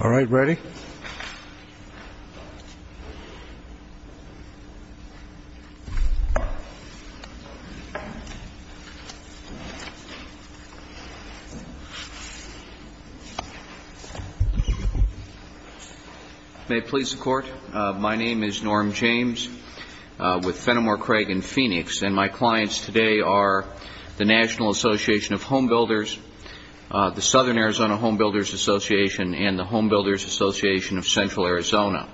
All right, ready? May it please the Court, my name is Norm James with Fenimore, Craig, and Phoenix, and my clients today are the National Association of Home Builders, the Southern Arizona Home Builders Association, and the Home Builders Association of Central Arizona.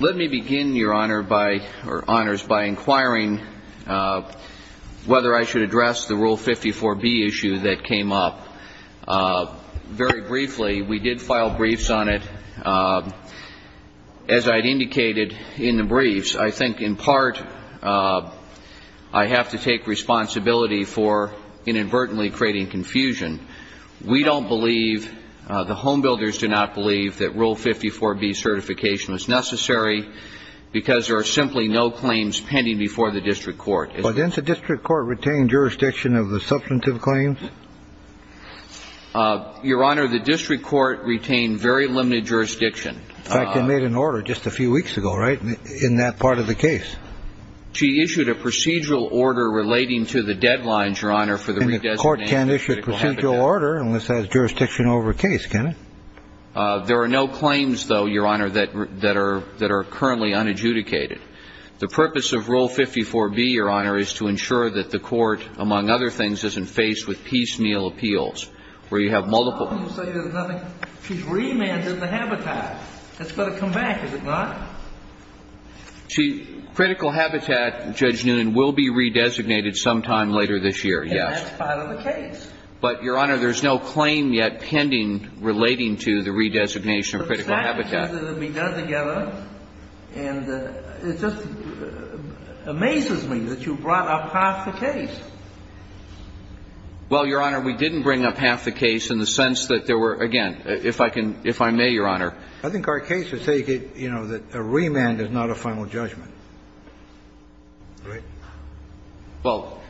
Let me begin, Your Honor, or Honors, by inquiring whether I should address the Rule 54B issue that came up. Very briefly, we did file briefs on it. As I had indicated in the briefs, I think, in part, I have to take responsibility for inadvertently creating confusion. We don't believe, the home builders do not believe, that Rule 54B certification was necessary because there are simply no claims pending before the district court. Well, didn't the district court retain jurisdiction of the substantive claims? Your Honor, the district court retained very limited jurisdiction. In fact, they made an order just a few weeks ago, right, in that part of the case. She issued a procedural order relating to the deadlines, Your Honor, for the redesignation of the critical habitat. And the court can't issue a procedural order unless it has jurisdiction over a case, can it? There are no claims, though, Your Honor, that are currently unadjudicated. The purpose of Rule 54B, Your Honor, is to ensure that the court, among other things, isn't faced with piecemeal appeals, where you have multiple. Well, you say there's nothing. She's remanded the habitat. It's got to come back, is it not? See, critical habitat, Judge Newman, will be redesignated sometime later this year, yes. And that's part of the case. But, Your Honor, there's no claim yet pending relating to the redesignation of critical habitat. Well, Your Honor, we didn't bring up half the case in the sense that there were – again, if I can, if I may, Your Honor. I think our case would say, you know, that a remand is not a final judgment. Right. Well,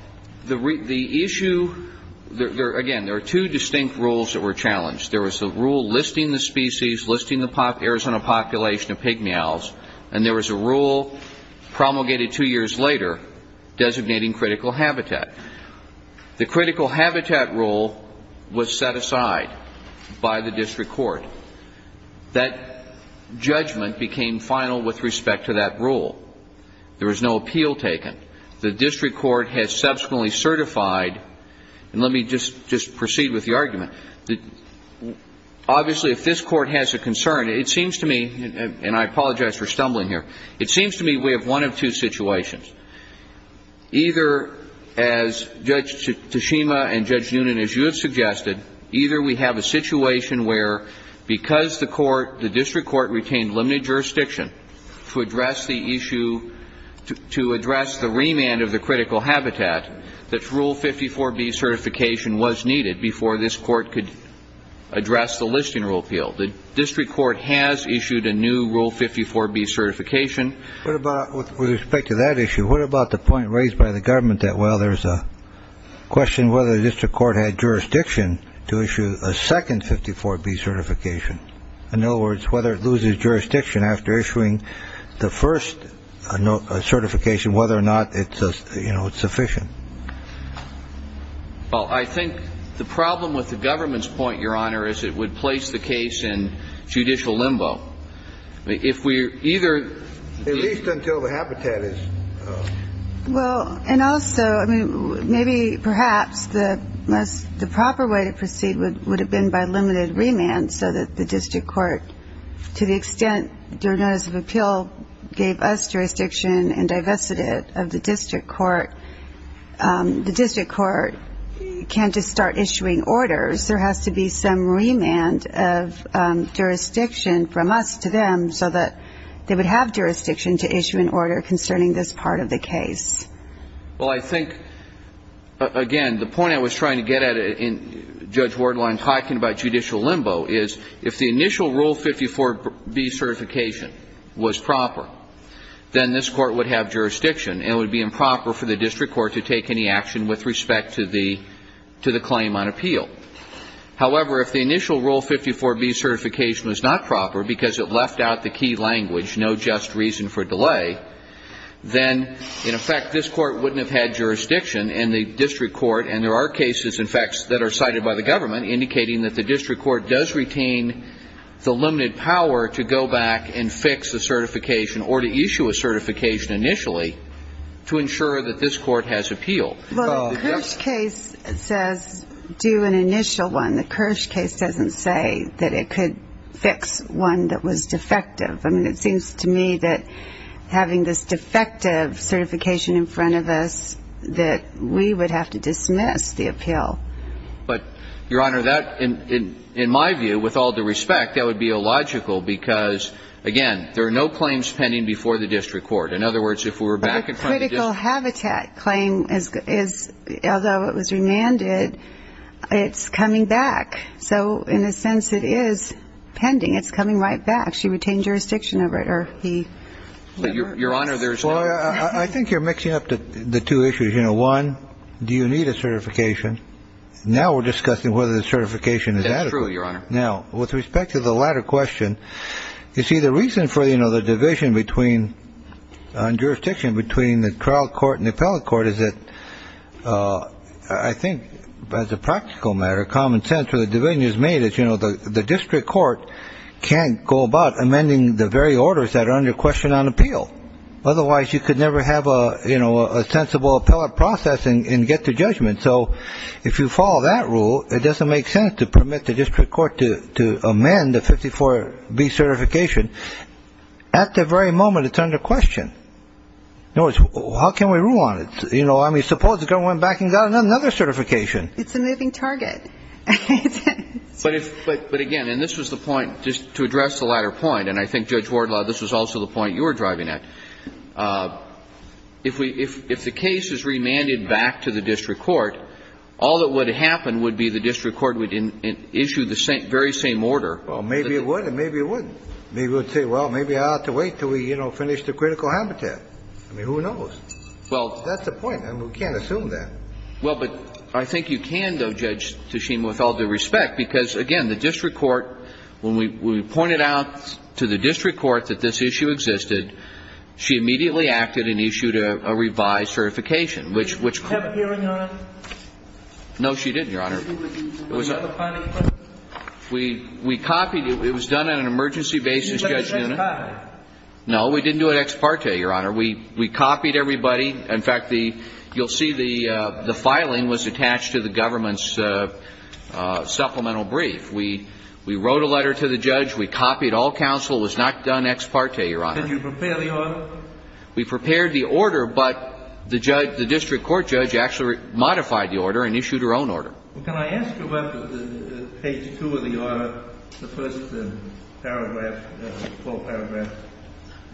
the issue – again, there are two distinct rules that were challenged. There was the rule listing the species, listing the population, and then there was a rule promulgated two years later designating critical habitat. The critical habitat rule was set aside by the district court. That judgment became final with respect to that rule. There was no appeal taken. The district court has subsequently certified – and let me just proceed with the I apologize for stumbling here. It seems to me we have one of two situations. Either as Judge Tashima and Judge Newman, as you have suggested, either we have a situation where because the court – the district court retained limited jurisdiction to address the issue – to address the remand of the critical habitat, that Rule 54B certification was needed before this court could address the listing rule appeal. The district court has issued a new Rule 54B certification. What about – with respect to that issue, what about the point raised by the government that, well, there's a question whether the district court had jurisdiction to issue a second 54B certification? In other words, whether it loses jurisdiction after issuing the first certification, whether or not it's, you know, it's sufficient. Well, I think the problem with the government's point, Your Honor, is it would place the case in judicial limbo. If we either – At least until the habitat is – Well, and also, I mean, maybe perhaps the most – the proper way to proceed would have been by limited remand so that the district court, to the extent your notice of appeal gave us jurisdiction and divested it of the district court, the district court can't just start issuing orders. There has to be some remand of jurisdiction from us to them so that they would have jurisdiction to issue an order concerning this part of the case. Well, I think, again, the point I was trying to get at in Judge Wardline talking about judicial limbo is if the initial Rule 54B certification was proper, then this court would have jurisdiction. It would be improper for the district court to take any action with respect to the claim on appeal. However, if the initial Rule 54B certification was not proper because it left out the key language, no just reason for delay, then, in effect, this court wouldn't have had jurisdiction and the district court – and there are cases, in fact, that are cited by the government indicating that the district court does retain the limited power to go back and fix the certification or to issue a certification initially to ensure that this court has appeal. Well, the Kirsch case says do an initial one. The Kirsch case doesn't say that it could fix one that was defective. I mean, it seems to me that having this defective certification in front of us, that we would have to dismiss the appeal. But Your Honor, in my view, with all due respect, that would be illogical because, again, there are no claims pending before the district court. In other words, if we were back in front of the district court – But the critical habitat claim is – although it was remanded, it's coming back. So in a sense, it is pending. It's coming right back. She retained jurisdiction over it, or he. Your Honor, there's no – Well, I think you're mixing up the two issues. You know, one, do you need a certification? Now we're discussing whether the certification is adequate. That's true, Your Honor. Now, with respect to the latter question, you see, the reason for, you know, the division between – on jurisdiction between the trial court and the appellate court is that I think as a practical matter, common sense or the division is made that, you know, the district court can't go about amending the very orders that are under question on appeal. Otherwise, you could never have a, you know, a sensible appellate process and get to judgment. So if you follow that rule, it doesn't make sense to permit the district court to amend the 54B certification. At the very moment, it's under question. In other words, how can we rule on it? You know, I mean, suppose the government went back and got another certification. It's a moving target. But if – but again, and this was the point – just to address the latter point, and I think, Judge Wardlaw, this was also the point you were driving at. If we – if the case is remanded back to the district court, all that would happen would be the district court would issue the same – very same order. Well, maybe it would and maybe it wouldn't. Maybe it would say, well, maybe I'll have to wait until we, you know, finish the critical habitat. I mean, who knows? Well, that's the point. I mean, we can't assume that. Well, but I think you can, though, Judge Tachim, with all due respect, because, again, the district court, when we pointed out to the district court that this issue existed, she immediately acted and issued a revised certification, which – which – Did she have a hearing, Your Honor? No, she didn't, Your Honor. She refused to do it. It was a – She refused to do it. It was a final question. We – we copied – it was done on an emergency basis, Judge Nunez. Did you let it ex parte? No, we didn't do it ex parte, Your Honor. We copied everybody. In fact, the – you'll see the – the filing was attached to the government's supplemental brief. We – we wrote a letter to the judge. We copied all counsel. It was not done ex parte, Your Honor. Did you prepare the order? We prepared the order, but the judge – the district court judge actually modified the order and issued her own order. Well, can I ask you about the – page 2 of the order, the first paragraph – full paragraph?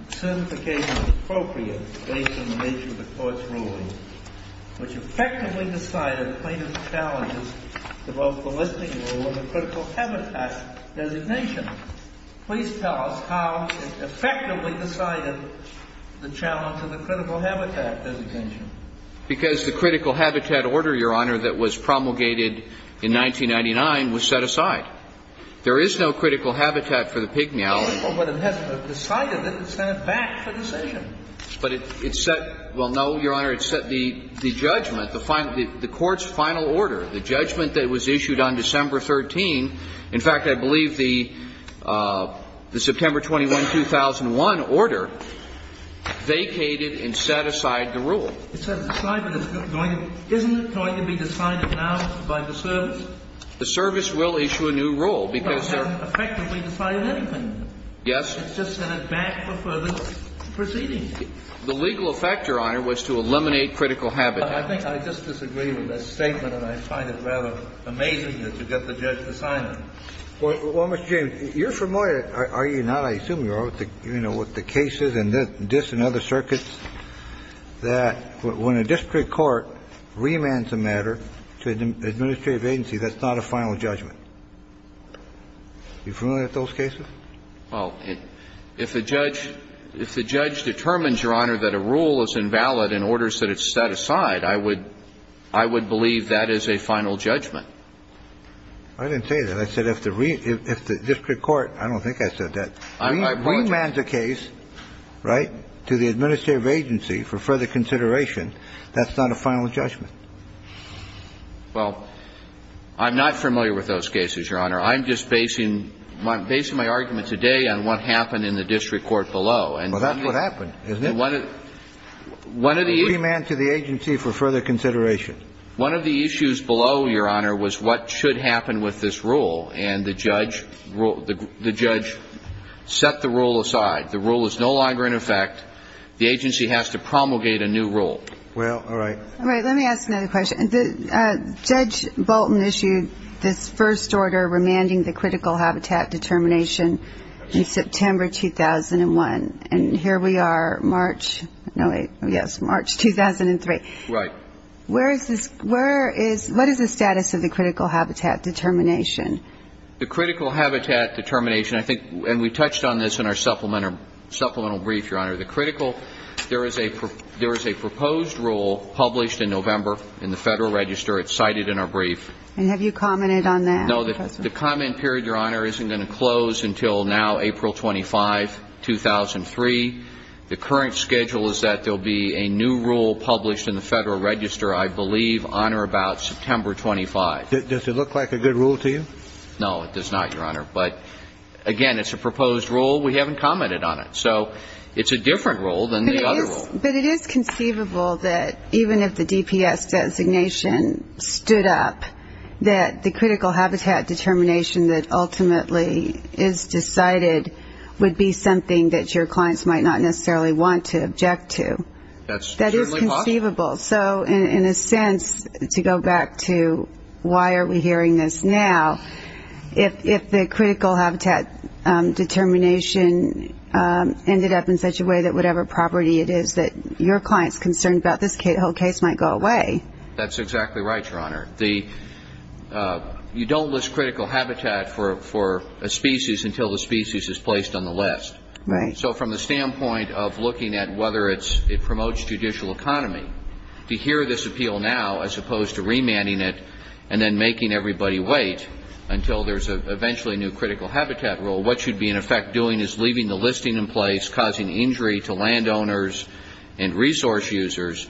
Certification is appropriate based on the nature of the court's ruling, which effectively decided plaintiff's challenges to both the listing rule and the critical habitat designation. Please tell us how it effectively decided the challenge of the critical habitat designation. Because the critical habitat order, Your Honor, that was promulgated in 1999 was set aside. There is no critical habitat for the pig meowing. Well, but it has decided it and sent it back for decision. But it – it set – well, no, Your Honor, it set the – the judgment, the final – the court's final order, the judgment that was issued on December 13. In fact, I believe the – the September 21, 2001 order vacated and set aside the rule. It set aside, but it's not going to – isn't it going to be decided now by the service? The service will issue a new rule because they're – But it hasn't effectively decided anything. Yes. It's just sent it back for further proceedings. The legal effect, Your Honor, was to eliminate critical habitat. I think I just disagree with that statement, and I find it rather amazing that you have the judge's assignment. Well, Mr. James, you're familiar, are you not? I assume you are, with the – you know, with the cases and this and other circuits that when a district court remands a matter to an administrative agency, that's not a final judgment. Are you familiar with those cases? Well, if the judge – if the judge determines, Your Honor, that a rule is invalid in orders that it's set aside, I would – I would believe that is a final judgment. I didn't say that. I said if the district court – I don't think I said that. I apologize. Remands a case, right, to the administrative agency for further consideration, that's not a final judgment. Well, I'm not familiar with those cases, Your Honor. I'm just basing – I'm basing my argument today on what happened in the district court below. Well, that's what happened, isn't it? One of the – Remand to the agency for further consideration. One of the issues below, Your Honor, was what should happen with this rule, and the judge – the judge set the rule aside. The rule is no longer in effect. The agency has to promulgate a new rule. Well, all right. All right. Let me ask another question. Judge Bolton issued this first order remanding the critical habitat determination in September 2001, and here we are, March – no, wait. Yes, March 2003. Right. Where is this – where is – what is the status of the critical habitat determination? The critical habitat determination, I think – and we touched on this in our supplemental brief, Your Honor. The critical – there is a proposed rule published in November in the federal register. It's cited in our brief. And have you commented on that? No, the comment period, Your Honor, isn't going to close until now, April 25, 2003. The current schedule is that there will be a new rule published in the federal register, I believe, on or about September 25. Does it look like a good rule to you? No, it does not, Your Honor. But again, it's a proposed rule. We haven't commented on it. So it's a different rule than the other rule. But it is conceivable that even if the DPS designation stood up, that the critical habitat determination that ultimately is decided would be something that your clients might not necessarily want to object to. That's certainly possible. That is conceivable. So in a sense, to go back to why are we hearing this now, if the critical habitat determination ended up in such a way that whatever property it is that your client is concerned about, this whole case might go away. That's exactly right, Your Honor. The – you don't list critical habitat for a species until the species is placed on the list. Right. So from the standpoint of looking at whether it's – it promotes judicial economy, to hear this appeal now as opposed to remanding it and then making everybody wait until there's eventually a new critical habitat rule, what should be in effect doing is leaving the listing in place, causing injury to landowners and resource users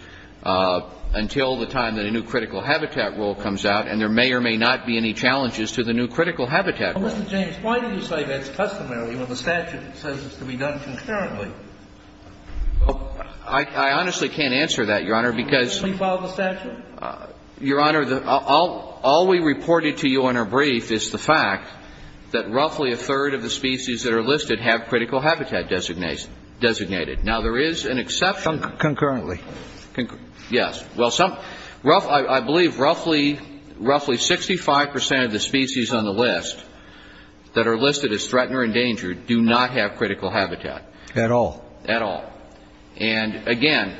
until the time that a new critical habitat rule comes out and there may or may not be any challenges to the new critical habitat rule. Well, Mr. James, why do you say that's customary when the statute says it's to be done concurrently? Well, I honestly can't answer that, Your Honor, because – Can we follow the statute? Your Honor, all we reported to you in our brief is the fact that roughly a third of the species that are listed have critical habitat designated. Now, there is an exception. Concurrently. Yes. Well, I believe roughly 65 percent of the species on the list that are listed as threatened or endangered do not have critical habitat. At all? At all. And again,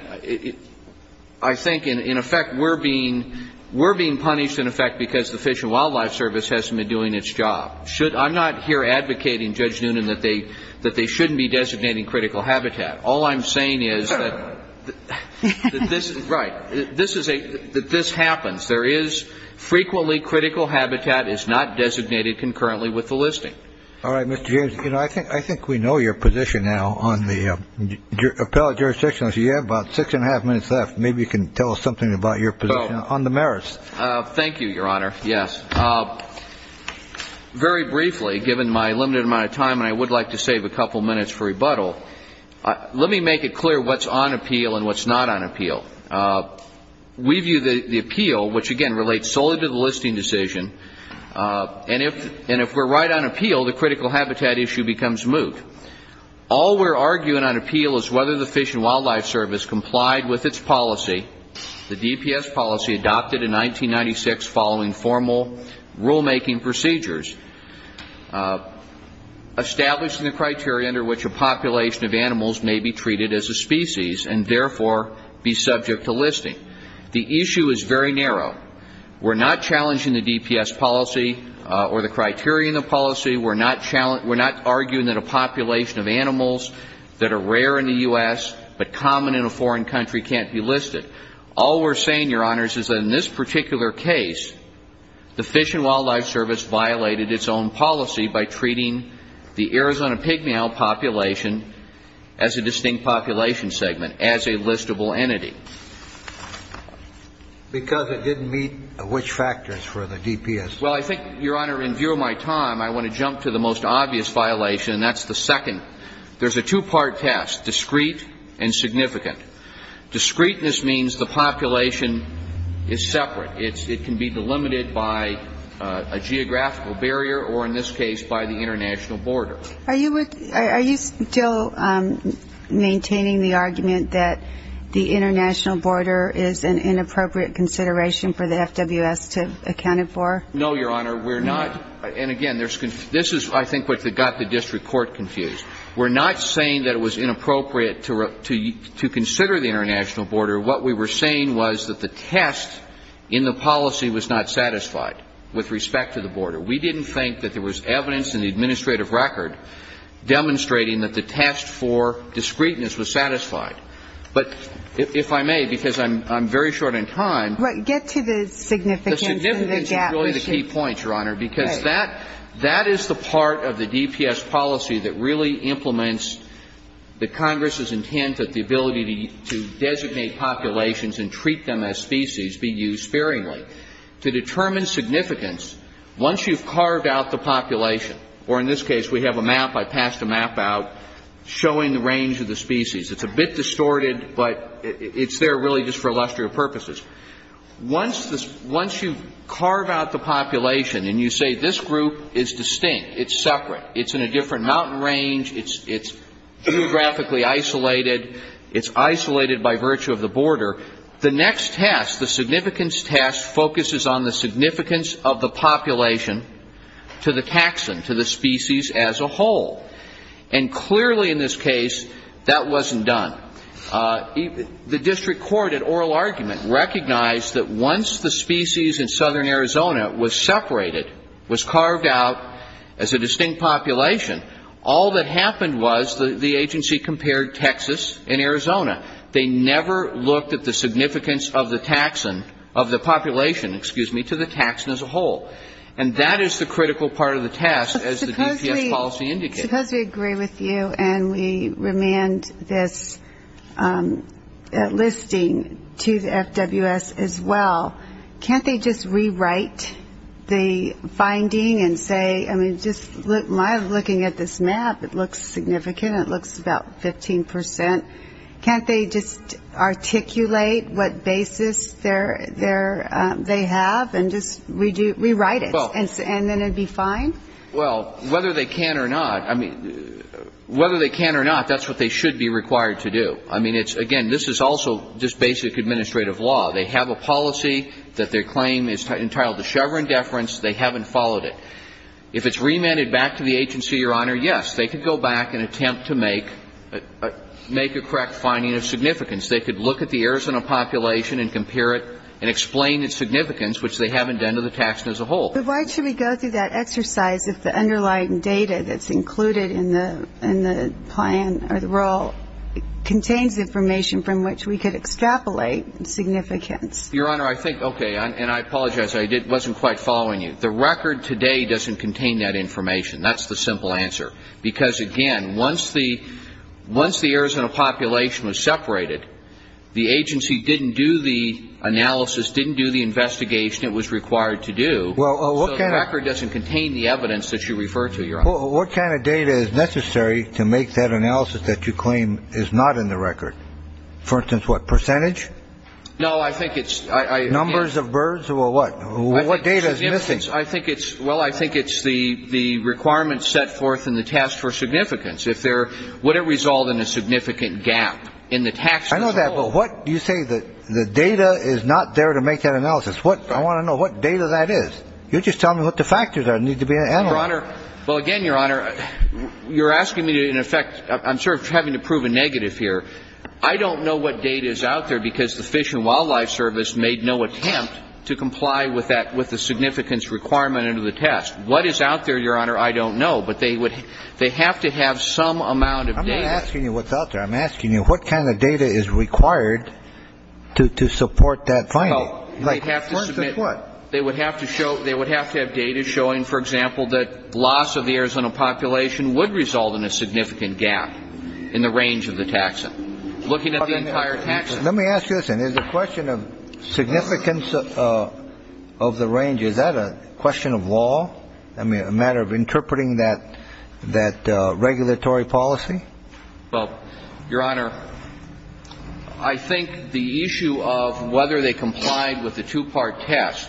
I think in effect we're being – we're being punished in effect because the Fish and Wildlife Service hasn't been doing its job. I'm not here advocating, Judge Noonan, that they shouldn't be designating critical habitat. All I'm saying is that this – right. This is a – that this happens. There is frequently critical habitat is not designated concurrently with the listing. All right, Mr. James. You know, I think we know your position now on the appellate jurisdiction. You have about six and a half minutes left. Maybe you can tell us something about your position on the merits. Thank you, Your Honor. Yes. Very briefly, given my limited amount of time and I would like to save a couple minutes for rebuttal, let me make it clear what's on appeal and what's not on appeal. We view the appeal, which again relates solely to the listing decision, and if we're right on appeal, the critical habitat issue becomes moot. All we're arguing on appeal is whether the Fish and Wildlife Service complied with its policy, the DPS policy adopted in 1996 following formal rulemaking procedures, establishing the criteria under which a population of animals may be treated as a species and therefore be subject to listing. The issue is very narrow. We're not challenging the DPS policy or the criteria in the policy. We're not arguing that a population of animals that are rare in the U.S. but common in a foreign country can't be listed. All we're saying, Your Honors, is that in this particular case, the Fish and Wildlife Service violated its own policy by treating the Arizona pig male population as a distinct population segment, as a listable entity. Because it didn't meet which factors for the DPS? Well, I think, Your Honor, in view of my time, I want to jump to the most obvious violation and that's the second. There's a two-part test, discrete and significant. Discreteness means the population is separate. It can be delimited by a geographical barrier or, in this case, by the international border. Are you still maintaining the argument that the international border is an inappropriate consideration for the FWS to have accounted for? No, Your Honor, we're not. And again, this is, I think, what got the district court confused. We're not saying that it was inappropriate to consider the international border. What we were saying was that the test in the policy was not satisfied with respect to the border. We didn't think that there was evidence in the administrative record demonstrating that the test for discreteness was satisfied. But if I may, because I'm very short on time. Get to the significance and the gap. The significance is really the key point, Your Honor, because that is the part of the DPS policy that really implements the Congress's intent that the ability to designate populations and treat them as species be used sparingly. To determine significance, once you've carved out the population, or in this case we have a map, I passed a map out, showing the range of the species. It's a bit distorted, but it's there really just for illustrious purposes. Once you carve out the population and you say, this group is distinct, it's separate, it's in a different mountain range, it's geographically isolated, it's isolated by virtue of the border, the next test, the significance test, focuses on the significance of the population to the taxon, to the species as a whole. And clearly in this case, that wasn't done. The district court, at oral argument, recognized that once the species in southern Arizona was separated, was carved out as a distinct population, all that happened was the agency compared Texas and Arizona. They never looked at the significance of the taxon, of the population, excuse me, to the taxon as a whole. And that is the critical part of the test, as the DPS policy indicates. I suppose we agree with you, and we remand this listing to the FWS as well. Can't they just rewrite the finding and say, I mean, just looking at this map, it looks significant, it looks about 15%. Can't they just articulate what basis they have and just rewrite it? And then it would be fine? Well, whether they can or not, I mean, whether they can or not, that's what they should be required to do. I mean, it's, again, this is also just basic administrative law. They have a policy that their claim is entitled the Chevron deference. They haven't followed it. If it's remanded back to the agency, Your Honor, yes, they could go back and attempt to make a correct finding of significance. They could look at the Arizona population and compare it and explain its significance, which they haven't done to the taxon as a whole. But why should we go through that exercise if the underlying data that's included in the plan or the rule contains information from which we could extrapolate significance? Your Honor, I think, okay, and I apologize, I wasn't quite following you. The record today doesn't contain that information. That's the simple answer. Because, again, once the Arizona population was separated, the agency didn't do the analysis, didn't do the investigation it was required to do. So the record doesn't contain the evidence that you refer to, Your Honor. Well, what kind of data is necessary to make that analysis that you claim is not in the record? For instance, what, percentage? No, I think it's... Numbers of birds or what? What data is missing? I think it's, well, I think it's the requirements set forth in the task for significance. If there, would it result in a significant gap in the taxon's role? I know that, but what, you say that the data is not there to make that analysis. I want to know what data that is. You're just telling me what the factors are that need to be analyzed. Your Honor, well, again, Your Honor, you're asking me to, in effect, I'm sort of having to prove a negative here. I don't know what data is out there because the Fish and Wildlife Service made no attempt to comply with that, with the significance requirement under the test. What is out there, Your Honor, I don't know. But they would, they have to have some amount of data. I'm not asking you what's out there. I'm asking you what kind of data is required to support that finding. Like, for instance, what? They would have to show, they would have to have data showing, for example, that loss of the Arizona population would result in a significant gap in the range of the taxon. Looking at the entire taxon. Let me ask you this then. Is the question of significance of the range, is that a question of law? I mean, a matter of interpreting that regulatory policy? Well, Your Honor, I think the issue of whether they complied with the two-part test,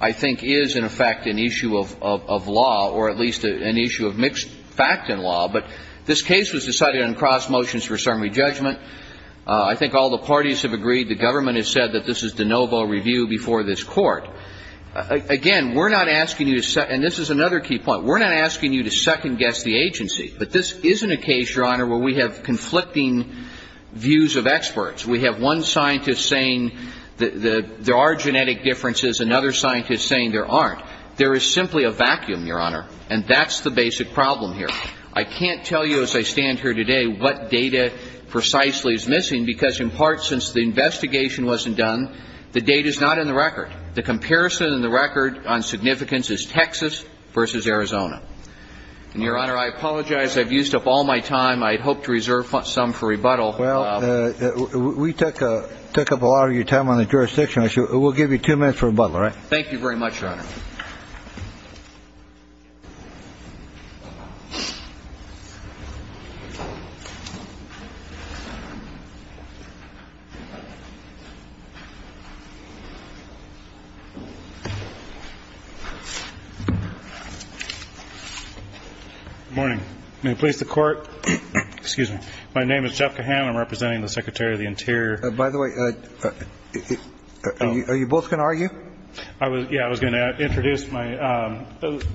I think is, in effect, an issue of law, or at least an issue of mixed fact in law. But this case was decided on cross motions for summary judgment. I think all the parties have agreed. The government has said that this is de novo review before this Court. Again, we're not asking you to, and this is another key point, we're not asking you to second-guess the agency. But this isn't a case, Your Honor, where we have conflicting views of experts. We have one scientist saying that there are genetic differences, another scientist saying there aren't. There is simply a vacuum, Your Honor, and that's the basic problem here. I can't tell you as I stand here today what data precisely is missing, because in part, since the investigation wasn't done, the data's not in the record. The comparison in the record on significance is Texas versus Arizona. Your Honor, I apologize. I've used up all my time. I'd hoped to reserve some for rebuttal. Well, we took up a lot of your time on the jurisdiction issue. We'll give you two minutes for rebuttal, all right? Thank you very much, Your Honor. Good morning. May it please the Court. Excuse me. My name is Jeff Cahan. I'm representing the Secretary of the Interior. By the way, are you both going to argue? Yeah, I was going to introduce my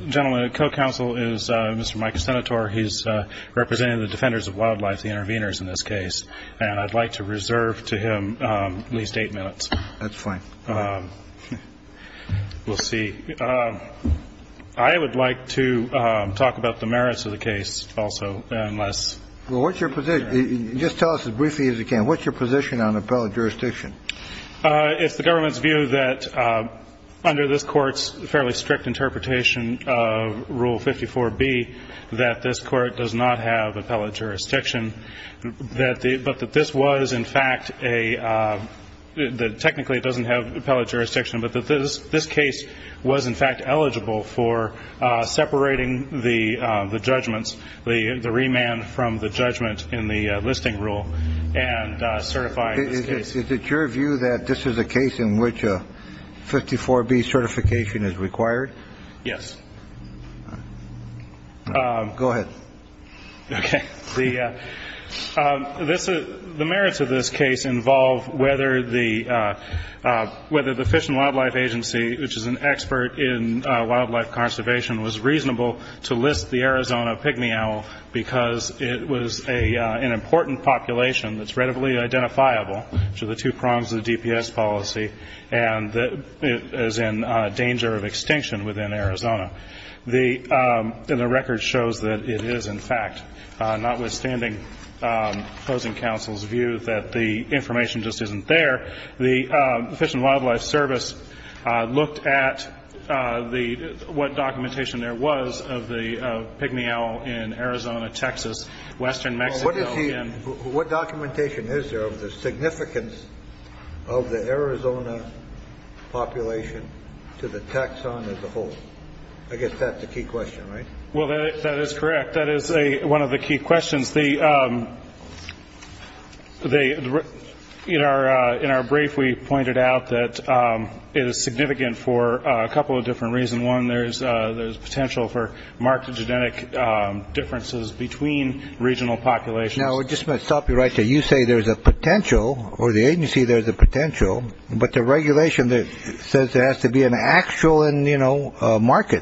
gentleman. My co-counsel is Mr. Mike Senatore. He's representing the Defenders of Wildlife, the interveners in this case. And I'd like to reserve to him at least eight minutes. That's fine. We'll see. I would like to talk about the merits of the case also, unless... Well, what's your position? Just tell us as briefly as you can. What's your position on appellate jurisdiction? It's the government's view that under this Court's fairly strict interpretation of Rule 54B, that this Court does not have appellate jurisdiction, but that this was, in fact, a – that technically it doesn't have appellate jurisdiction, but that this case was, in fact, eligible for separating the judgments, the remand from the judgment in the listing rule and certifying this case. Is it your view that this is a case in which a 54B certification is required? Yes. Go ahead. Okay. The merits of this case involve whether the Fish and Wildlife Agency, which is an expert in wildlife conservation, was reasonable to list the Arizona pygmy owl because it was an important population that's readily identifiable to the two prongs of the DPS policy and is in danger of extinction within Arizona. The – and the record shows that it is, in fact. Notwithstanding opposing counsel's view that the information just isn't there, the Fish and Wildlife Service looked at the – what documentation there was of the pygmy owl in Arizona, Texas, Western Mexico. What is the – what documentation is there of the significance of the Arizona population to the taxon as a whole? I guess that's the key question, right? Well, that is correct. That is one of the key questions. The – in our brief, we pointed out that it is significant for a couple of different reasons. One, there's potential for marked genetic differences between regional populations. Now, we're just going to stop you right there. But the regulation says there has to be an actual market.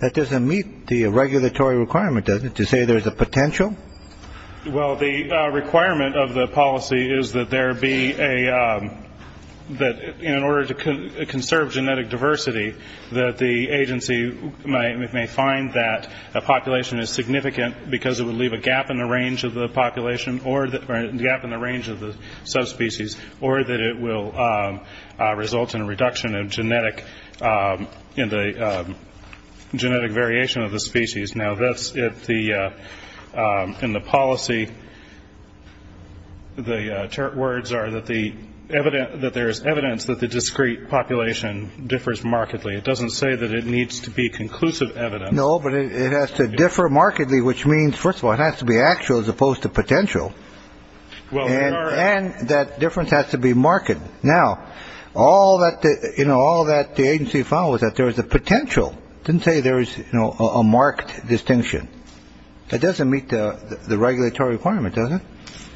That doesn't meet the regulatory requirement, does it, to say there's a potential? Well, the requirement of the policy is that there be a – that in order to conserve genetic diversity, that the agency may find that a population is significant because it would leave a gap in the range of the population or – that it will result in a reduction of genetic – in the genetic variation of the species. Now, that's if the – in the policy, the words are that the – that there is evidence that the discrete population differs markedly. It doesn't say that it needs to be conclusive evidence. No, but it has to differ markedly, which means, first of all, it has to be actual as opposed to potential. And that difference has to be marked. Now, all that – you know, all that the agency found was that there was a potential. It didn't say there was, you know, a marked distinction. That doesn't meet the regulatory requirement, does it?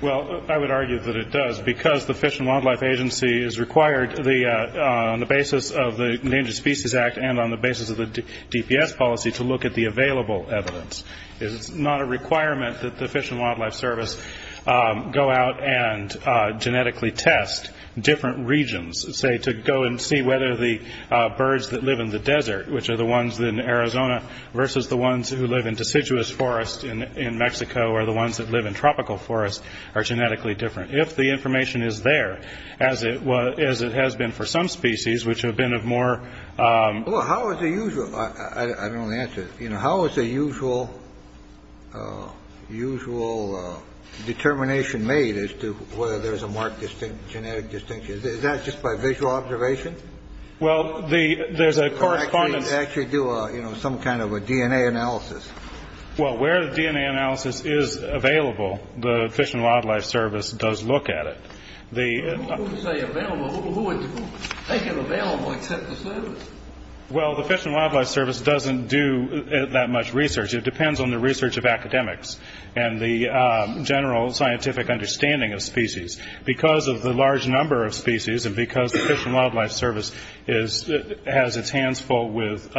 Well, I would argue that it does because the Fish and Wildlife Agency is required on the basis of the Endangered Species Act and on the basis of the DPS policy to look at the available evidence. It's not a requirement that the Fish and Wildlife Service go out and genetically test different regions, say, to go and see whether the birds that live in the desert, which are the ones in Arizona versus the ones who live in deciduous forests in Mexico or the ones that live in tropical forests, are genetically different. If the information is there, as it has been for some species, which have been of more – I don't know the answer. You know, how is the usual determination made as to whether there's a marked genetic distinction? Is that just by visual observation? Well, there's a correspondence – Or actually do some kind of a DNA analysis. Well, where the DNA analysis is available, the Fish and Wildlife Service does look at it. Well, the Fish and Wildlife Service doesn't do that much research. It depends on the research of academics and the general scientific understanding of species. Because of the large number of species and because the Fish and Wildlife Service has its hands full with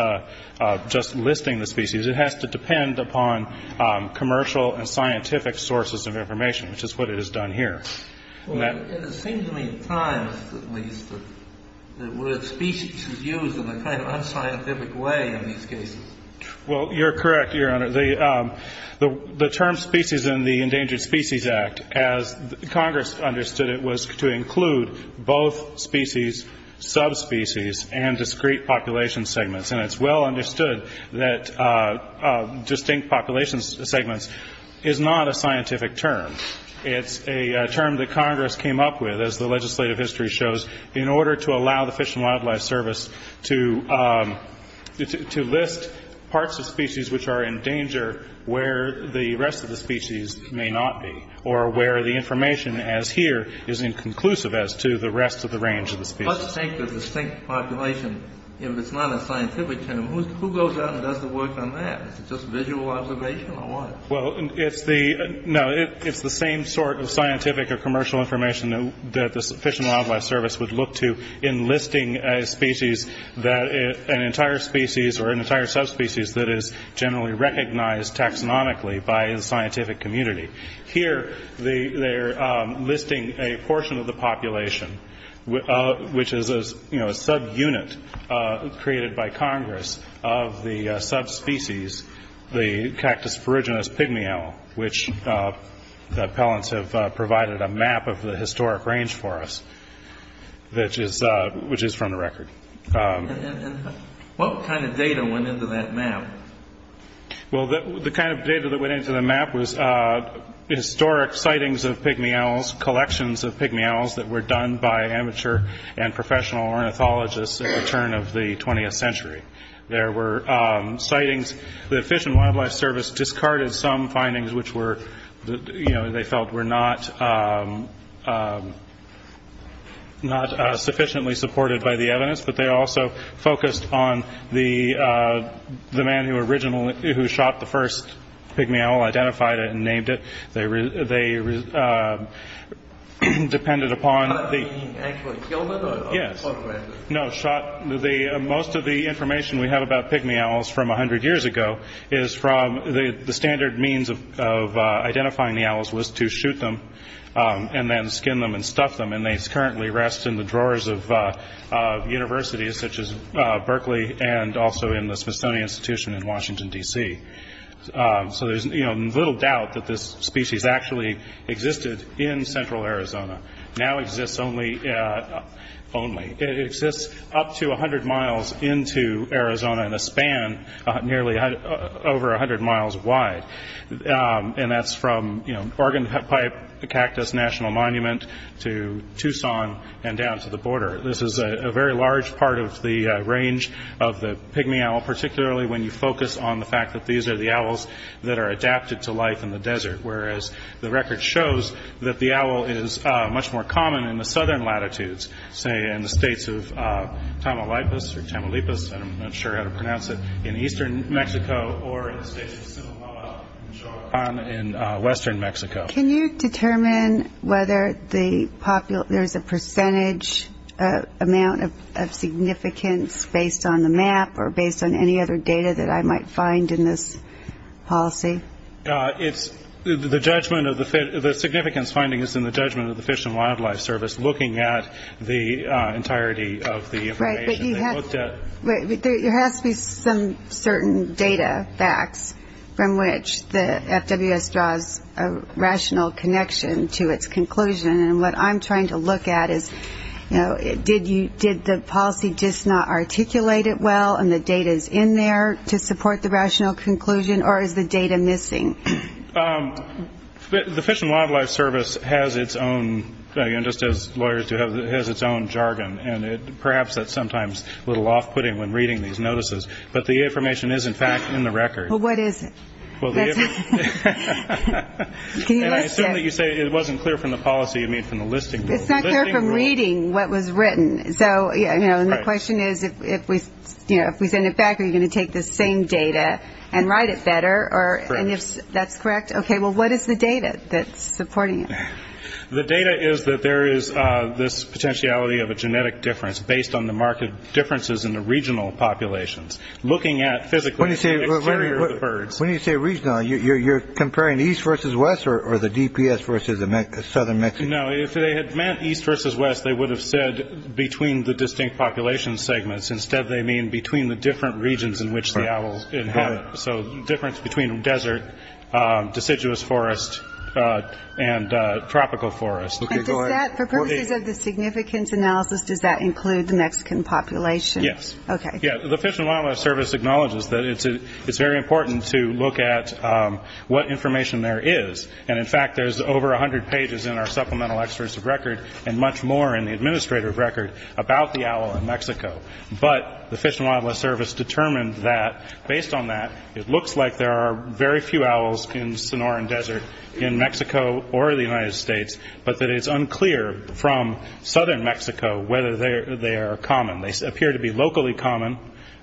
just listing the species, it has to depend upon commercial and scientific sources of information, which is what it has done here. It seems to me at times, at least, that the word species is used in a kind of unscientific way in these cases. Well, you're correct, Your Honor. The term species in the Endangered Species Act, as Congress understood it, was to include both species, subspecies, and discrete population segments. And it's well understood that distinct population segments is not a scientific term. It's a term that Congress came up with, as the legislative history shows, in order to allow the Fish and Wildlife Service to list parts of species which are in danger where the rest of the species may not be, or where the information, as here, is inconclusive as to the rest of the range of the species. What's a distinct population if it's not a scientific term? Who goes out and does the work on that? Is it just visual observation or what? Well, it's the same sort of scientific or commercial information that the Fish and Wildlife Service would look to in listing a species, an entire species or an entire subspecies that is generally recognized taxonomically by the scientific community. Here, they're listing a portion of the population, which is a subunit created by Congress of the subspecies, the cactus foraginus pygmy owl, which the appellants have provided a map of the historic range for us, which is from the record. And what kind of data went into that map? Well, the kind of data that went into the map was historic sightings of pygmy owls, collections of pygmy owls that were done by amateur and professional ornithologists at the turn of the 20th century. There were sightings. The Fish and Wildlife Service discarded some findings, which they felt were not sufficiently supported by the evidence, but they also focused on the man who originally shot the first pygmy owl, identified it and named it. They depended upon the... Not being actually killed it or photographed it? No, shot. Most of the information we have about pygmy owls from 100 years ago is from the standard means of identifying the owls was to shoot them and then skin them and stuff them, and they currently rest in the drawers of universities such as Berkeley and also in the Smithsonian Institution in Washington, D.C. So there's little doubt that this species actually existed in central Arizona. Now it exists only... It exists up to 100 miles into Arizona in a span nearly over 100 miles wide, and that's from Oregon Pipe Cactus National Monument to Tucson and down to the border. This is a very large part of the range of the pygmy owl, particularly when you focus on the fact that these are the owls that are adapted to life in the desert, whereas the record shows that the owl is much more common in the southern latitudes, say in the states of Tamaulipas or Tamaulipas, I'm not sure how to pronounce it, in eastern Mexico or in the states of Sinaloa, Michoacan, and western Mexico. Can you determine whether there's a percentage amount of significance based on the map or based on any other data that I might find in this policy? The significance finding is in the judgment of the Fish and Wildlife Service looking at the entirety of the information they looked at. Right, but there has to be some certain data facts from which the FWS draws a rational connection to its conclusion, and what I'm trying to look at is did the policy just not articulate it well and the data's in there to support the rational conclusion, or is the data missing? The Fish and Wildlife Service has its own, just as lawyers do, has its own jargon, and perhaps that's sometimes a little off-putting when reading these notices, but the information is, in fact, in the record. Well, what is it? Can you list it? And I assume that you say it wasn't clear from the policy, you mean from the listing rule. It's not clear from reading what was written. So, you know, and the question is, if we send it back, are you going to take the same data and write it better, and if that's correct, okay, well, what is the data that's supporting it? The data is that there is this potentiality of a genetic difference based on the marked differences in the regional populations, looking at physically the exterior of the birds. When you say regional, you're comparing east versus west or the DPS versus southern Mexico? No, if they had meant east versus west, they would have said between the distinct population segments. Instead, they mean between the different regions in which the owl inhabits. So difference between desert, deciduous forest, and tropical forest. Okay, go ahead. For purposes of the significance analysis, does that include the Mexican population? Yes. Okay. Yeah, the Fish and Wildlife Service acknowledges that it's very important to look at what information there is. And, in fact, there's over 100 pages in our Supplemental Excerpts of Record and much more in the Administrative Record about the owl in Mexico. But the Fish and Wildlife Service determined that, based on that, it looks like there are very few owls in Sonoran Desert in Mexico or the United States, but that it's unclear from southern Mexico whether they are common. They appear to be locally common,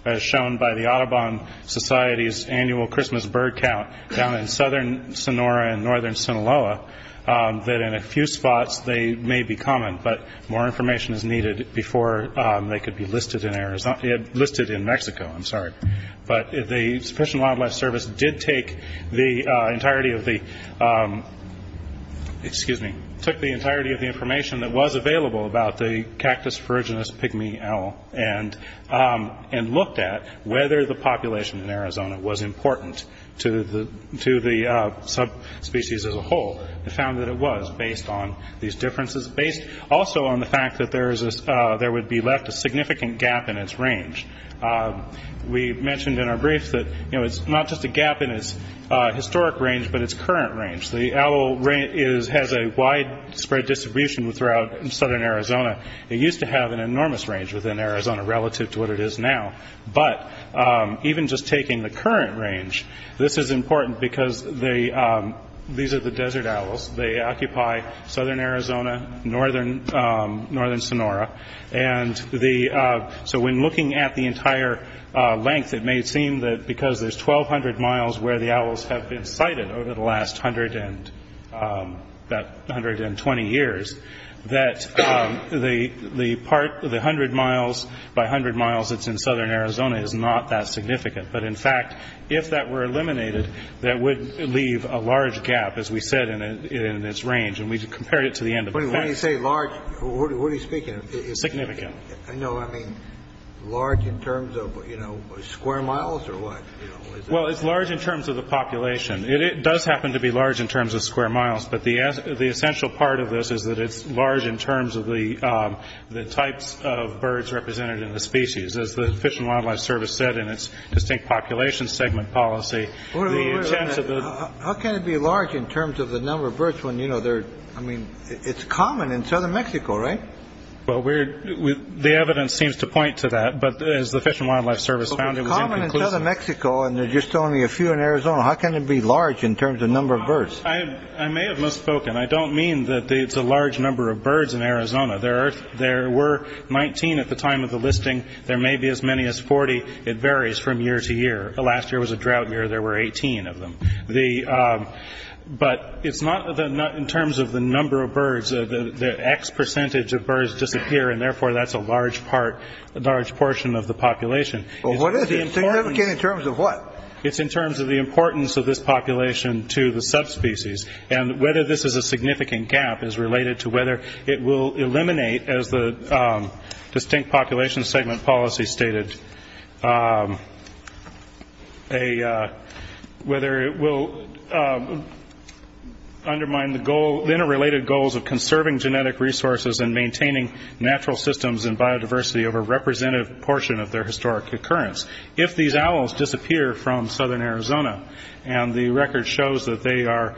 as shown by the Audubon Society's annual Christmas bird count down in southern Sonora and northern Sinaloa, that in a few spots they may be common. But more information is needed before they could be listed in Mexico. I'm sorry. But the Fish and Wildlife Service did take the entirety of the information that was available about the Cactus Phrygianus pygmy owl and looked at whether the population in Arizona was important to the subspecies as a whole. They found that it was, based on these differences. Based also on the fact that there would be left a significant gap in its range. We mentioned in our brief that it's not just a gap in its historic range, but its current range. The owl has a widespread distribution throughout southern Arizona. It used to have an enormous range within Arizona, relative to what it is now. But, even just taking the current range, this is important because these are the desert owls. They occupy southern Arizona, northern Sonora. So when looking at the entire length, it may seem that because there's 1,200 miles where the owls have been sighted over the last 120 years, that the part, the 100 miles by 100 miles that's in southern Arizona is not that significant. But, in fact, if that were eliminated, that would leave a large gap, as we said, in its range. And we compared it to the end effect. When you say large, what are you speaking of? Significant. No, I mean large in terms of, you know, square miles or what? Well, it's large in terms of the population. It does happen to be large in terms of square miles. But the essential part of this is that it's large in terms of the types of birds represented in the species. As the Fish and Wildlife Service said in its distinct population segment policy, the intent of the... How can it be large in terms of the number of birds when, you know, they're... I mean, it's common in southern Mexico, right? Well, the evidence seems to point to that. But, as the Fish and Wildlife Service found, it was inconclusive. Well, if it's common in southern Mexico and there's just only a few in Arizona, how can it be large in terms of number of birds? I may have misspoken. I don't mean that it's a large number of birds in Arizona. There were 19 at the time of the listing. There may be as many as 40. It varies from year to year. Last year was a drought year. There were 18 of them. But it's not in terms of the number of birds, the X percentage of birds disappear, and therefore that's a large part, a large portion of the population. Well, what is it? Significant in terms of what? It's in terms of the importance of this population to the subspecies, and whether this is a significant gap is related to whether it will eliminate, as the distinct population segment policy stated, whether it will undermine the goal, the interrelated goals of conserving genetic resources and maintaining natural systems and biodiversity of a representative portion of their historic occurrence. If these owls disappear from southern Arizona and the record shows that they are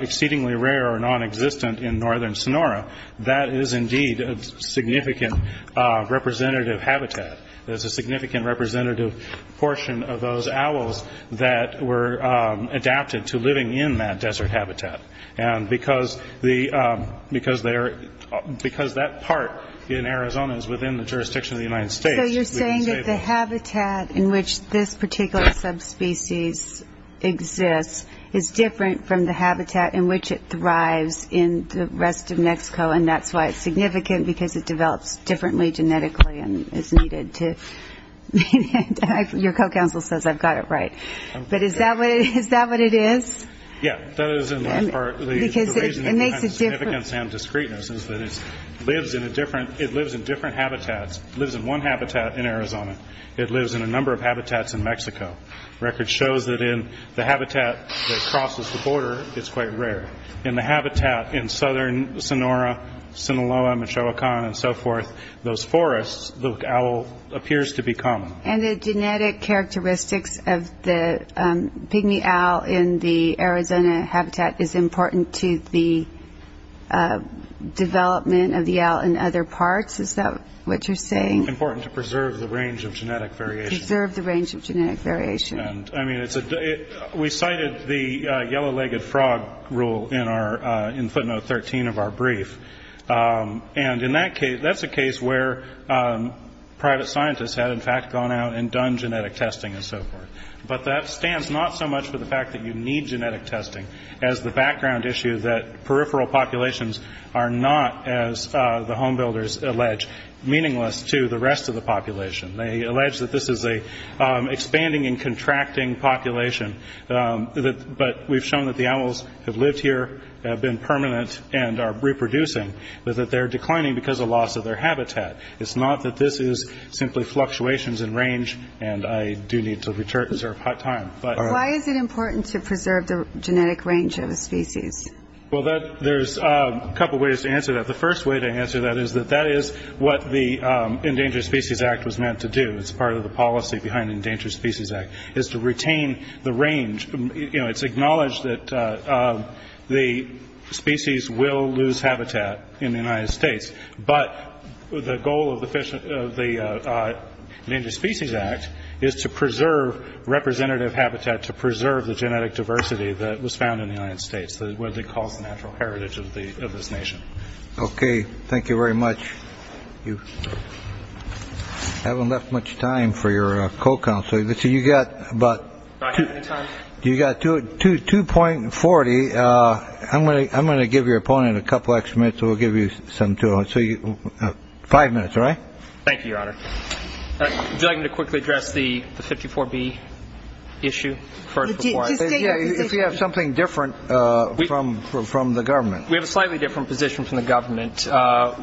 exceedingly rare or nonexistent in northern Sonora, that is indeed a significant representative habitat. There's a significant representative portion of those owls that were adapted to living in that desert habitat. And because that part in Arizona is within the jurisdiction of the United States, So you're saying that the habitat in which this particular subspecies exists is different from the habitat in which it thrives in the rest of Mexico, and that's why it's significant, because it develops differently genetically and is needed to, your co-counsel says I've got it right. But is that what it is? Yeah, that is in large part, because the reason it has significance and discreteness is that it lives in a different, it lives in different habitats. It lives in one habitat in Arizona. It lives in a number of habitats in Mexico. The record shows that in the habitat that crosses the border, it's quite rare. In the habitat in southern Sonora, Sinaloa, Michoacan, and so forth, those forests, the owl appears to be common. And the genetic characteristics of the pygmy owl in the Arizona habitat is important to the development of the owl in other parts? Is that what you're saying? Important to preserve the range of genetic variation. Preserve the range of genetic variation. I mean, we cited the yellow-legged frog rule in footnote 13 of our brief. And that's a case where private scientists had, in fact, gone out and done genetic testing and so forth. But that stands not so much for the fact that you need genetic testing as the background issue that peripheral populations are not, as the home builders allege, meaningless to the rest of the population. They allege that this is an expanding and contracting population. But we've shown that the owls have lived here, have been permanent, and are reproducing, but that they're declining because of loss of their habitat. It's not that this is simply fluctuations in range, and I do need to preserve time. Why is it important to preserve the genetic range of a species? Well, there's a couple ways to answer that. The first way to answer that is that that is what the Endangered Species Act was meant to do. It's part of the policy behind the Endangered Species Act, is to retain the range. It's acknowledged that the species will lose habitat in the United States. But the goal of the Endangered Species Act is to preserve representative habitat, to preserve the genetic diversity that was found in the United States, what they call the natural heritage of this nation. Okay. Thank you very much. You haven't left much time for your co-counsel. You've got about 2.40. I'm going to give your opponent a couple extra minutes, so we'll give you some time. Five minutes, all right? Thank you, Your Honor. Would you like me to quickly address the 54B issue? Just state your position. If you have something different from the government. We have a slightly different position from the government.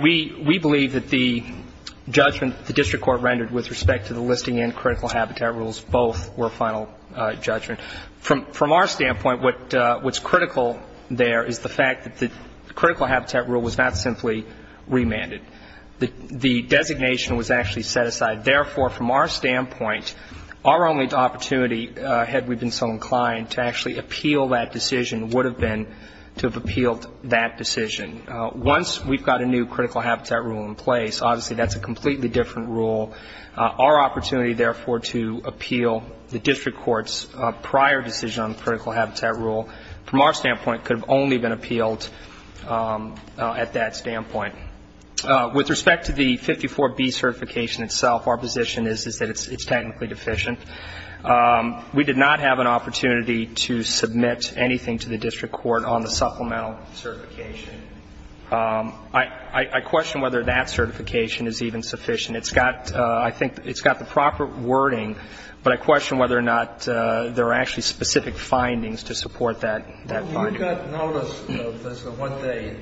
We believe that the judgment the district court rendered with respect to the listing in critical habitat rules, both were a final judgment. From our standpoint, what's critical there is the fact that the critical habitat rule was not simply remanded. The designation was actually set aside. Therefore, from our standpoint, our only opportunity, had we been so inclined, to actually appeal that decision would have been to have appealed that decision. Once we've got a new critical habitat rule in place, obviously that's a completely different rule. Our opportunity, therefore, to appeal the district court's prior decision on the critical habitat rule, from our standpoint, could have only been appealed at that standpoint. With respect to the 54B certification itself, our position is that it's technically deficient. We did not have an opportunity to submit anything to the district court on the supplemental certification. I question whether that certification is even sufficient. It's got, I think, it's got the proper wording, but I question whether or not there are actually specific findings to support that finding. You got notice of this one day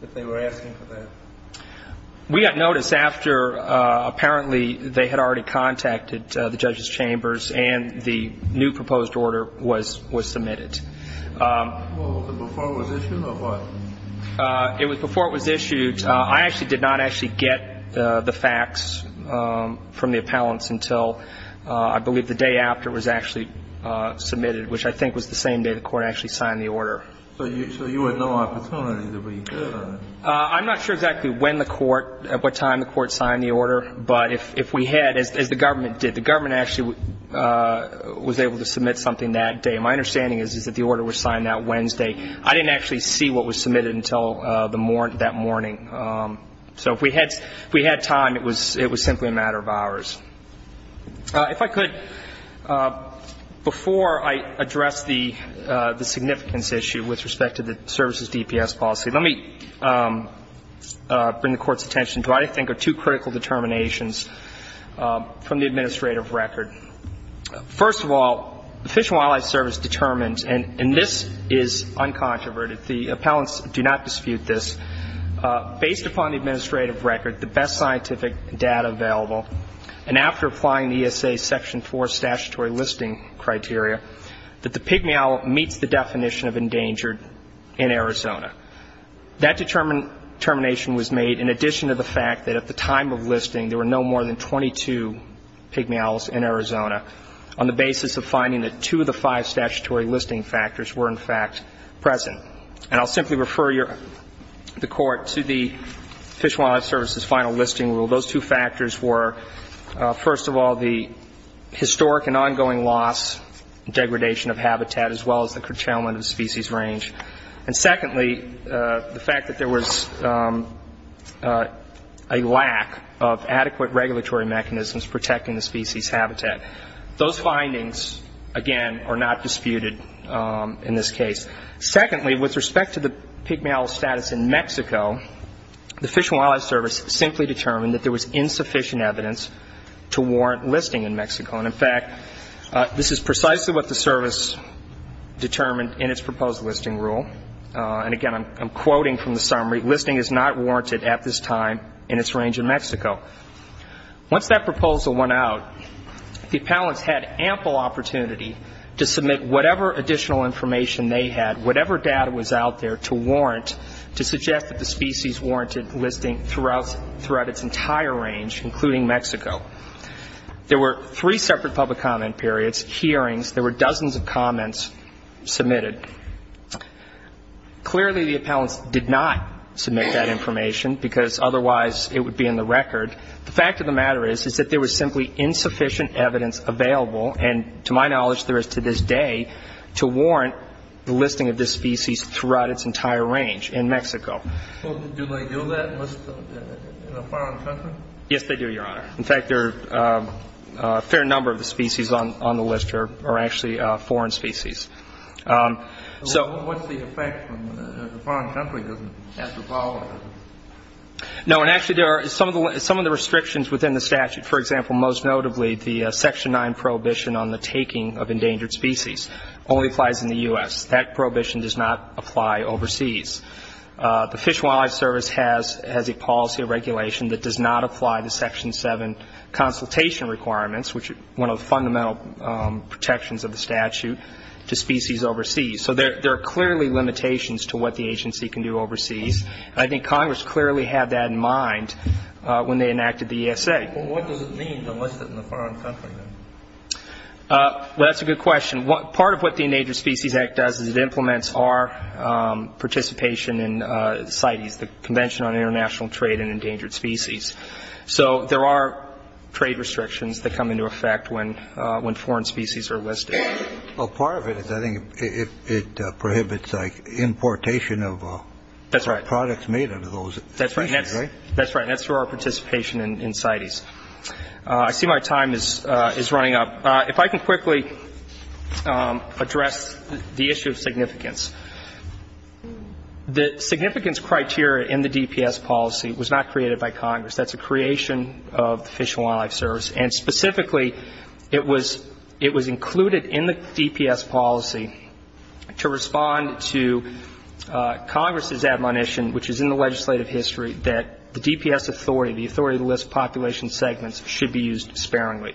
that they were asking for that? We got notice after, apparently, they had already contacted the judge's chambers, and the new proposed order was submitted. Well, was it before it was issued, or what? It was before it was issued. I actually did not actually get the facts from the appellants until, I believe, the day after it was actually submitted, which I think was the same day the court actually signed the order. So you had no opportunity to be heard on it? I'm not sure exactly when the court, at what time the court signed the order, but if we had, as the government did, the government actually was able to submit something that day. My understanding is that the order was signed that Wednesday. I didn't actually see what was submitted until that morning. So if we had time, it was simply a matter of hours. If I could, before I address the significance issue with respect to the services DPS policy, let me bring the Court's attention to what I think are two critical determinations from the administrative record. First of all, the Fish and Wildlife Service determined, and this is uncontroverted, the appellants do not dispute this, based upon the administrative record, the best scientific data available, and after applying the ESA Section 4 statutory listing criteria, that the pygmy owl meets the definition of endangered in Arizona. That determination was made in addition to the fact that at the time of listing, there were no more than 22 pygmy owls in Arizona, on the basis of finding that two of the five statutory listing factors were, in fact, present. And I'll simply refer the Court to the Fish and Wildlife Service's final listing rule. Those two factors were, first of all, the historic and ongoing loss, degradation of habitat, as well as the curtailment of species range. And secondly, the fact that there was a lack of adequate regulatory mechanisms protecting the species' habitat. Those findings, again, are not disputed in this case. Secondly, with respect to the pygmy owl's status in Mexico, the Fish and Wildlife Service simply determined that there was insufficient evidence to warrant listing in Mexico. And, in fact, this is precisely what the Service determined in its proposed listing rule. And, again, I'm quoting from the summary, listing is not warranted at this time in its range in Mexico. Once that proposal went out, the appellants had ample opportunity to submit whatever additional information they had, whatever data was out there, to warrant, to suggest that the species warranted listing throughout its entire range, including Mexico. There were three separate public comment periods, hearings. There were dozens of comments submitted. Clearly, the appellants did not submit that information because otherwise it would be in the record. The fact of the matter is that there was simply insufficient evidence available, and to my knowledge there is to this day, to warrant the listing of this species throughout its entire range in Mexico. Well, do they do that in a foreign country? Yes, they do, Your Honor. In fact, a fair number of the species on the list are actually foreign species. So what's the effect when the foreign country doesn't have the power? No, and actually some of the restrictions within the statute, for example, most notably the Section 9 prohibition on the taking of endangered species, only applies in the U.S. That prohibition does not apply overseas. The Fish and Wildlife Service has a policy or regulation that does not apply the Section 7 consultation requirements, which is one of the fundamental protections of the statute, to species overseas. So there are clearly limitations to what the agency can do overseas. I think Congress clearly had that in mind when they enacted the ESA. Well, what does it mean to list it in a foreign country then? Well, that's a good question. Part of what the Endangered Species Act does is it implements our participation in CITES, the Convention on International Trade in Endangered Species. So there are trade restrictions that come into effect when foreign species are listed. Well, part of it is I think it prohibits importation of products made out of those species, right? That's right, and that's through our participation in CITES. I see my time is running up. If I can quickly address the issue of significance. The significance criteria in the DPS policy was not created by Congress. That's a creation of the Fish and Wildlife Service, and specifically it was included in the DPS policy to respond to Congress's admonition, which is in the legislative history, that the DPS authority, the authority to list population segments, should be used sparingly.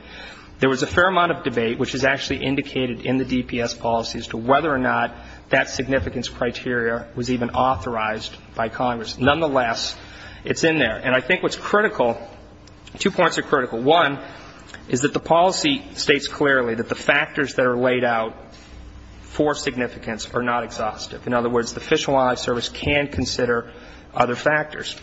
There was a fair amount of debate, which is actually indicated in the DPS policy, as to whether or not that significance criteria was even authorized by Congress. Nonetheless, it's in there. And I think what's critical, two points are critical. One is that the policy states clearly that the factors that are laid out for significance are not exhaustive. In other words, the Fish and Wildlife Service can consider other factors.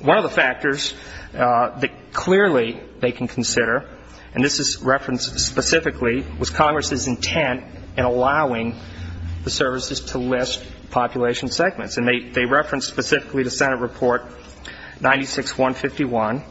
One of the factors that clearly they can consider, and this is referenced specifically, was Congress's intent in allowing the services to list population segments. And they reference specifically the Senate Report 96-151,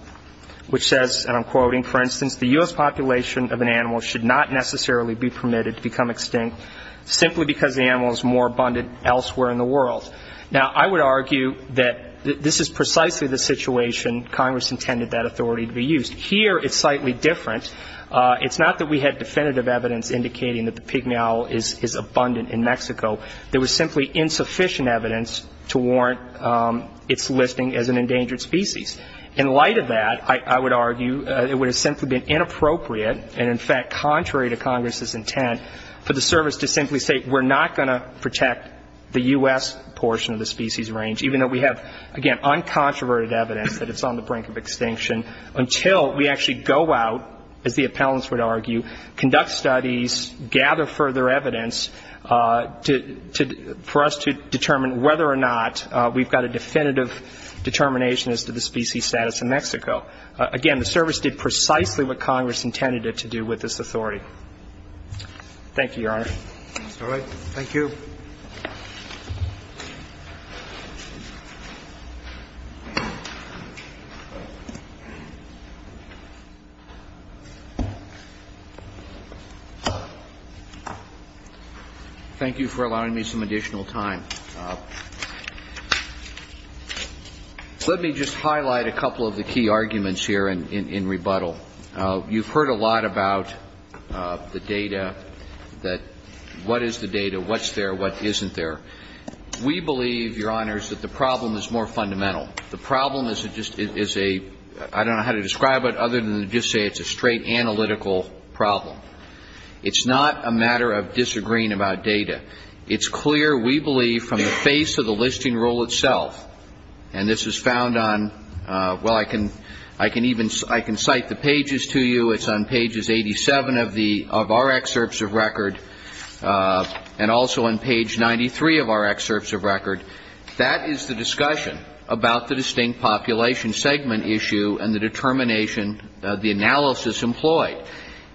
which says, and I'm quoting, for instance, the U.S. population of an animal should not necessarily be permitted to become extinct, simply because the animal is more abundant elsewhere in the world. Now, I would argue that this is precisely the situation Congress intended that authority to be used. Here, it's slightly different. It's not that we had definitive evidence indicating that the pigmy owl is abundant in Mexico. There was simply insufficient evidence to warrant its listing as an endangered species. In light of that, I would argue it would have simply been inappropriate, and in fact, contrary to Congress's intent, for the service to simply say, we're not going to protect the U.S. portion of the species range, even though we have, again, uncontroverted evidence that it's on the brink of extinction, until we actually go out, as the appellants would argue, conduct studies, gather further evidence for us to determine whether or not we've got a definitive determination as to the species status in Mexico. Again, the service did precisely what Congress intended it to do with this authority. Thank you, Your Honor. That's all right. Thank you. Thank you for allowing me some additional time. Let me just highlight a couple of the key arguments here in rebuttal. You've heard a lot about the data, that what is the data, what's there, what isn't there. We believe, Your Honors, that the problem is more fundamental. The problem is a, I don't know how to describe it, other than to just say it's a straight analytical problem. It's not a matter of disagreeing about data. It's clear, we believe, from the face of the listing rule itself, and this is found on, well, I can cite the pages to you, it's on pages 87 of our excerpts of record, and also on page 93 of our excerpts of record, that is the discussion about the distinct population segment issue and the determination, the analysis employed.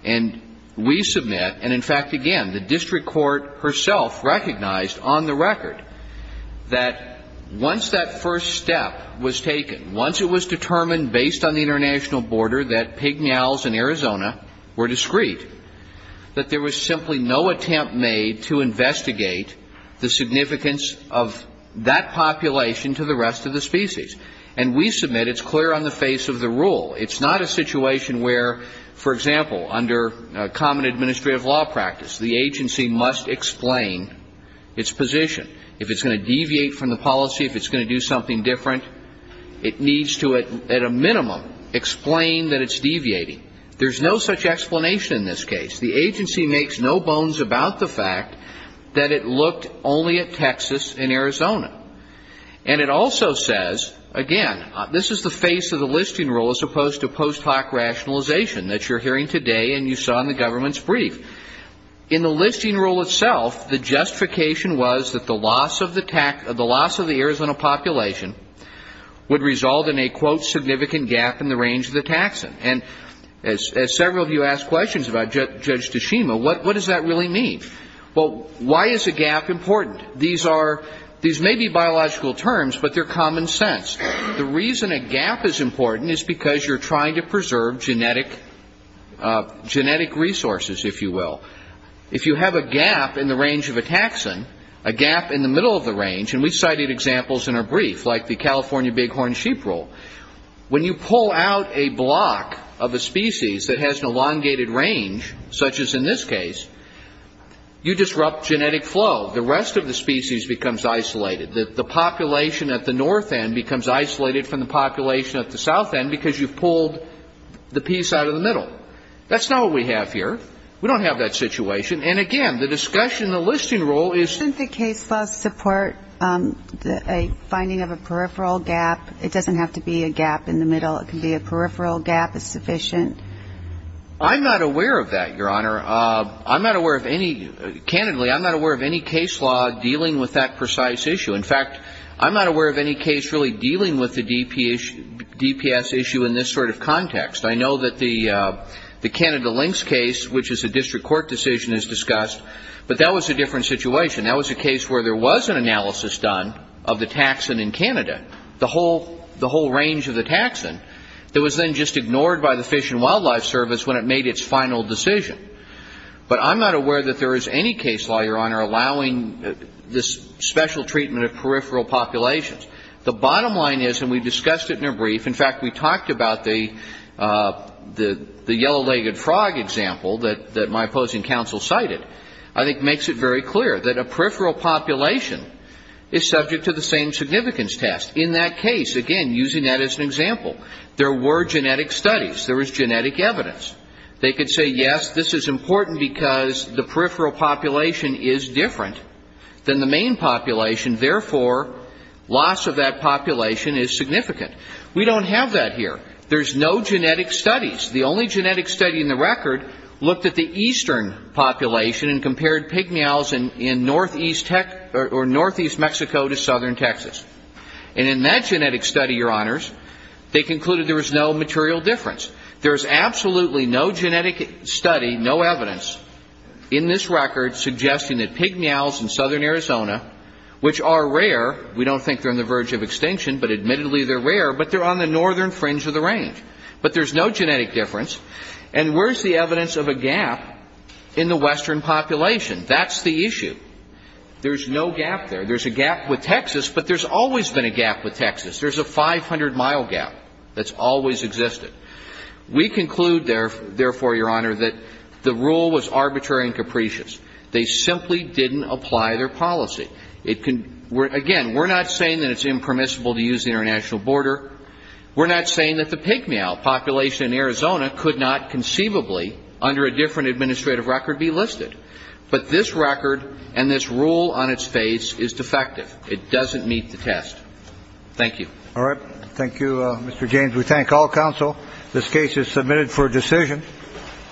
And we submit, and in fact, again, the district court herself recognized on the record, that once that first step was taken, once it was determined based on the international border that pig meows in Arizona were discrete, that there was simply no attempt made to investigate the significance of that population to the rest of the species. And we submit it's clear on the face of the rule. It's not a situation where, for example, under common administrative law practice, the agency must explain its position. If it's going to deviate from the policy, if it's going to do something different, it needs to, at a minimum, explain that it's deviating. There's no such explanation in this case. The agency makes no bones about the fact that it looked only at Texas and Arizona. And it also says, again, this is the face of the listing rule as opposed to post hoc rationalization that you're hearing today and you saw in the government's brief. In the listing rule itself, the justification was that the loss of the Arizona population would result in a, quote, significant gap in the range of the taxon. And as several of you asked questions about Judge Tashima, what does that really mean? Well, why is a gap important? These may be biological terms, but they're common sense. The reason a gap is important is because you're trying to preserve genetic resources, if you will. If you have a gap in the range of a taxon, a gap in the middle of the range, and we cited examples in our brief, like the California bighorn sheep rule, when you pull out a block of a species that has an elongated range, such as in this case, you disrupt genetic flow. The rest of the species becomes isolated. The population at the north end becomes isolated from the population at the south end because you've pulled the piece out of the middle. That's not what we have here. We don't have that situation. And again, the discussion in the listing rule is... Doesn't the case law support a finding of a peripheral gap? It doesn't have to be a gap in the middle. It can be a peripheral gap is sufficient. I'm not aware of that, Your Honor. I'm not aware of any... Candidly, I'm not aware of any case law dealing with that precise issue. In fact, I'm not aware of any case really dealing with the DPS issue in this sort of context. I know that the Canada lynx case, which is a district court decision, is discussed. But that was a different situation. That was a case where there was an analysis done of the taxon in Canada, the whole range of the taxon, that was then just ignored by the Fish and Wildlife Service when it made its final decision. But I'm not aware that there is any case law, Your Honor, allowing this special treatment of peripheral populations. The bottom line is, and we discussed it in a brief... In fact, we talked about the yellow-legged frog example that my opposing counsel cited, I think makes it very clear that a peripheral population is subject to the same significance test. In that case, again, using that as an example, there were genetic studies. There was genetic evidence. They could say, yes, this is important because the peripheral population is different than the main population, therefore, loss of that population is significant. We don't have that here. There's no genetic studies. The only genetic study in the record looked at the eastern population and compared pigmeows in northeast Mexico to southern Texas. And in that genetic study, Your Honors, they concluded there was no material difference. There is absolutely no genetic study, no evidence, in this record, suggesting that pigmeows in southern Arizona, which are rare, we don't think they're on the verge of extinction, but admittedly they're rare, but they're on the northern fringe of the range. But there's no genetic difference. And where's the evidence of a gap in the western population? That's the issue. There's no gap there. There's a gap with Texas, but there's always been a gap with Texas. There's a 500-mile gap that's always existed. We conclude, therefore, Your Honor, that the rule was arbitrary and capricious. They simply didn't apply their policy. Again, we're not saying that it's impermissible to use the international border. We're not saying that the pigmeow population in Arizona could not conceivably, under a different administrative record, be listed. But this record and this rule on its face is defective. It doesn't meet the test. Thank you. All right. Thank you, Mr. James. We thank all counsel. This case is submitted for decision.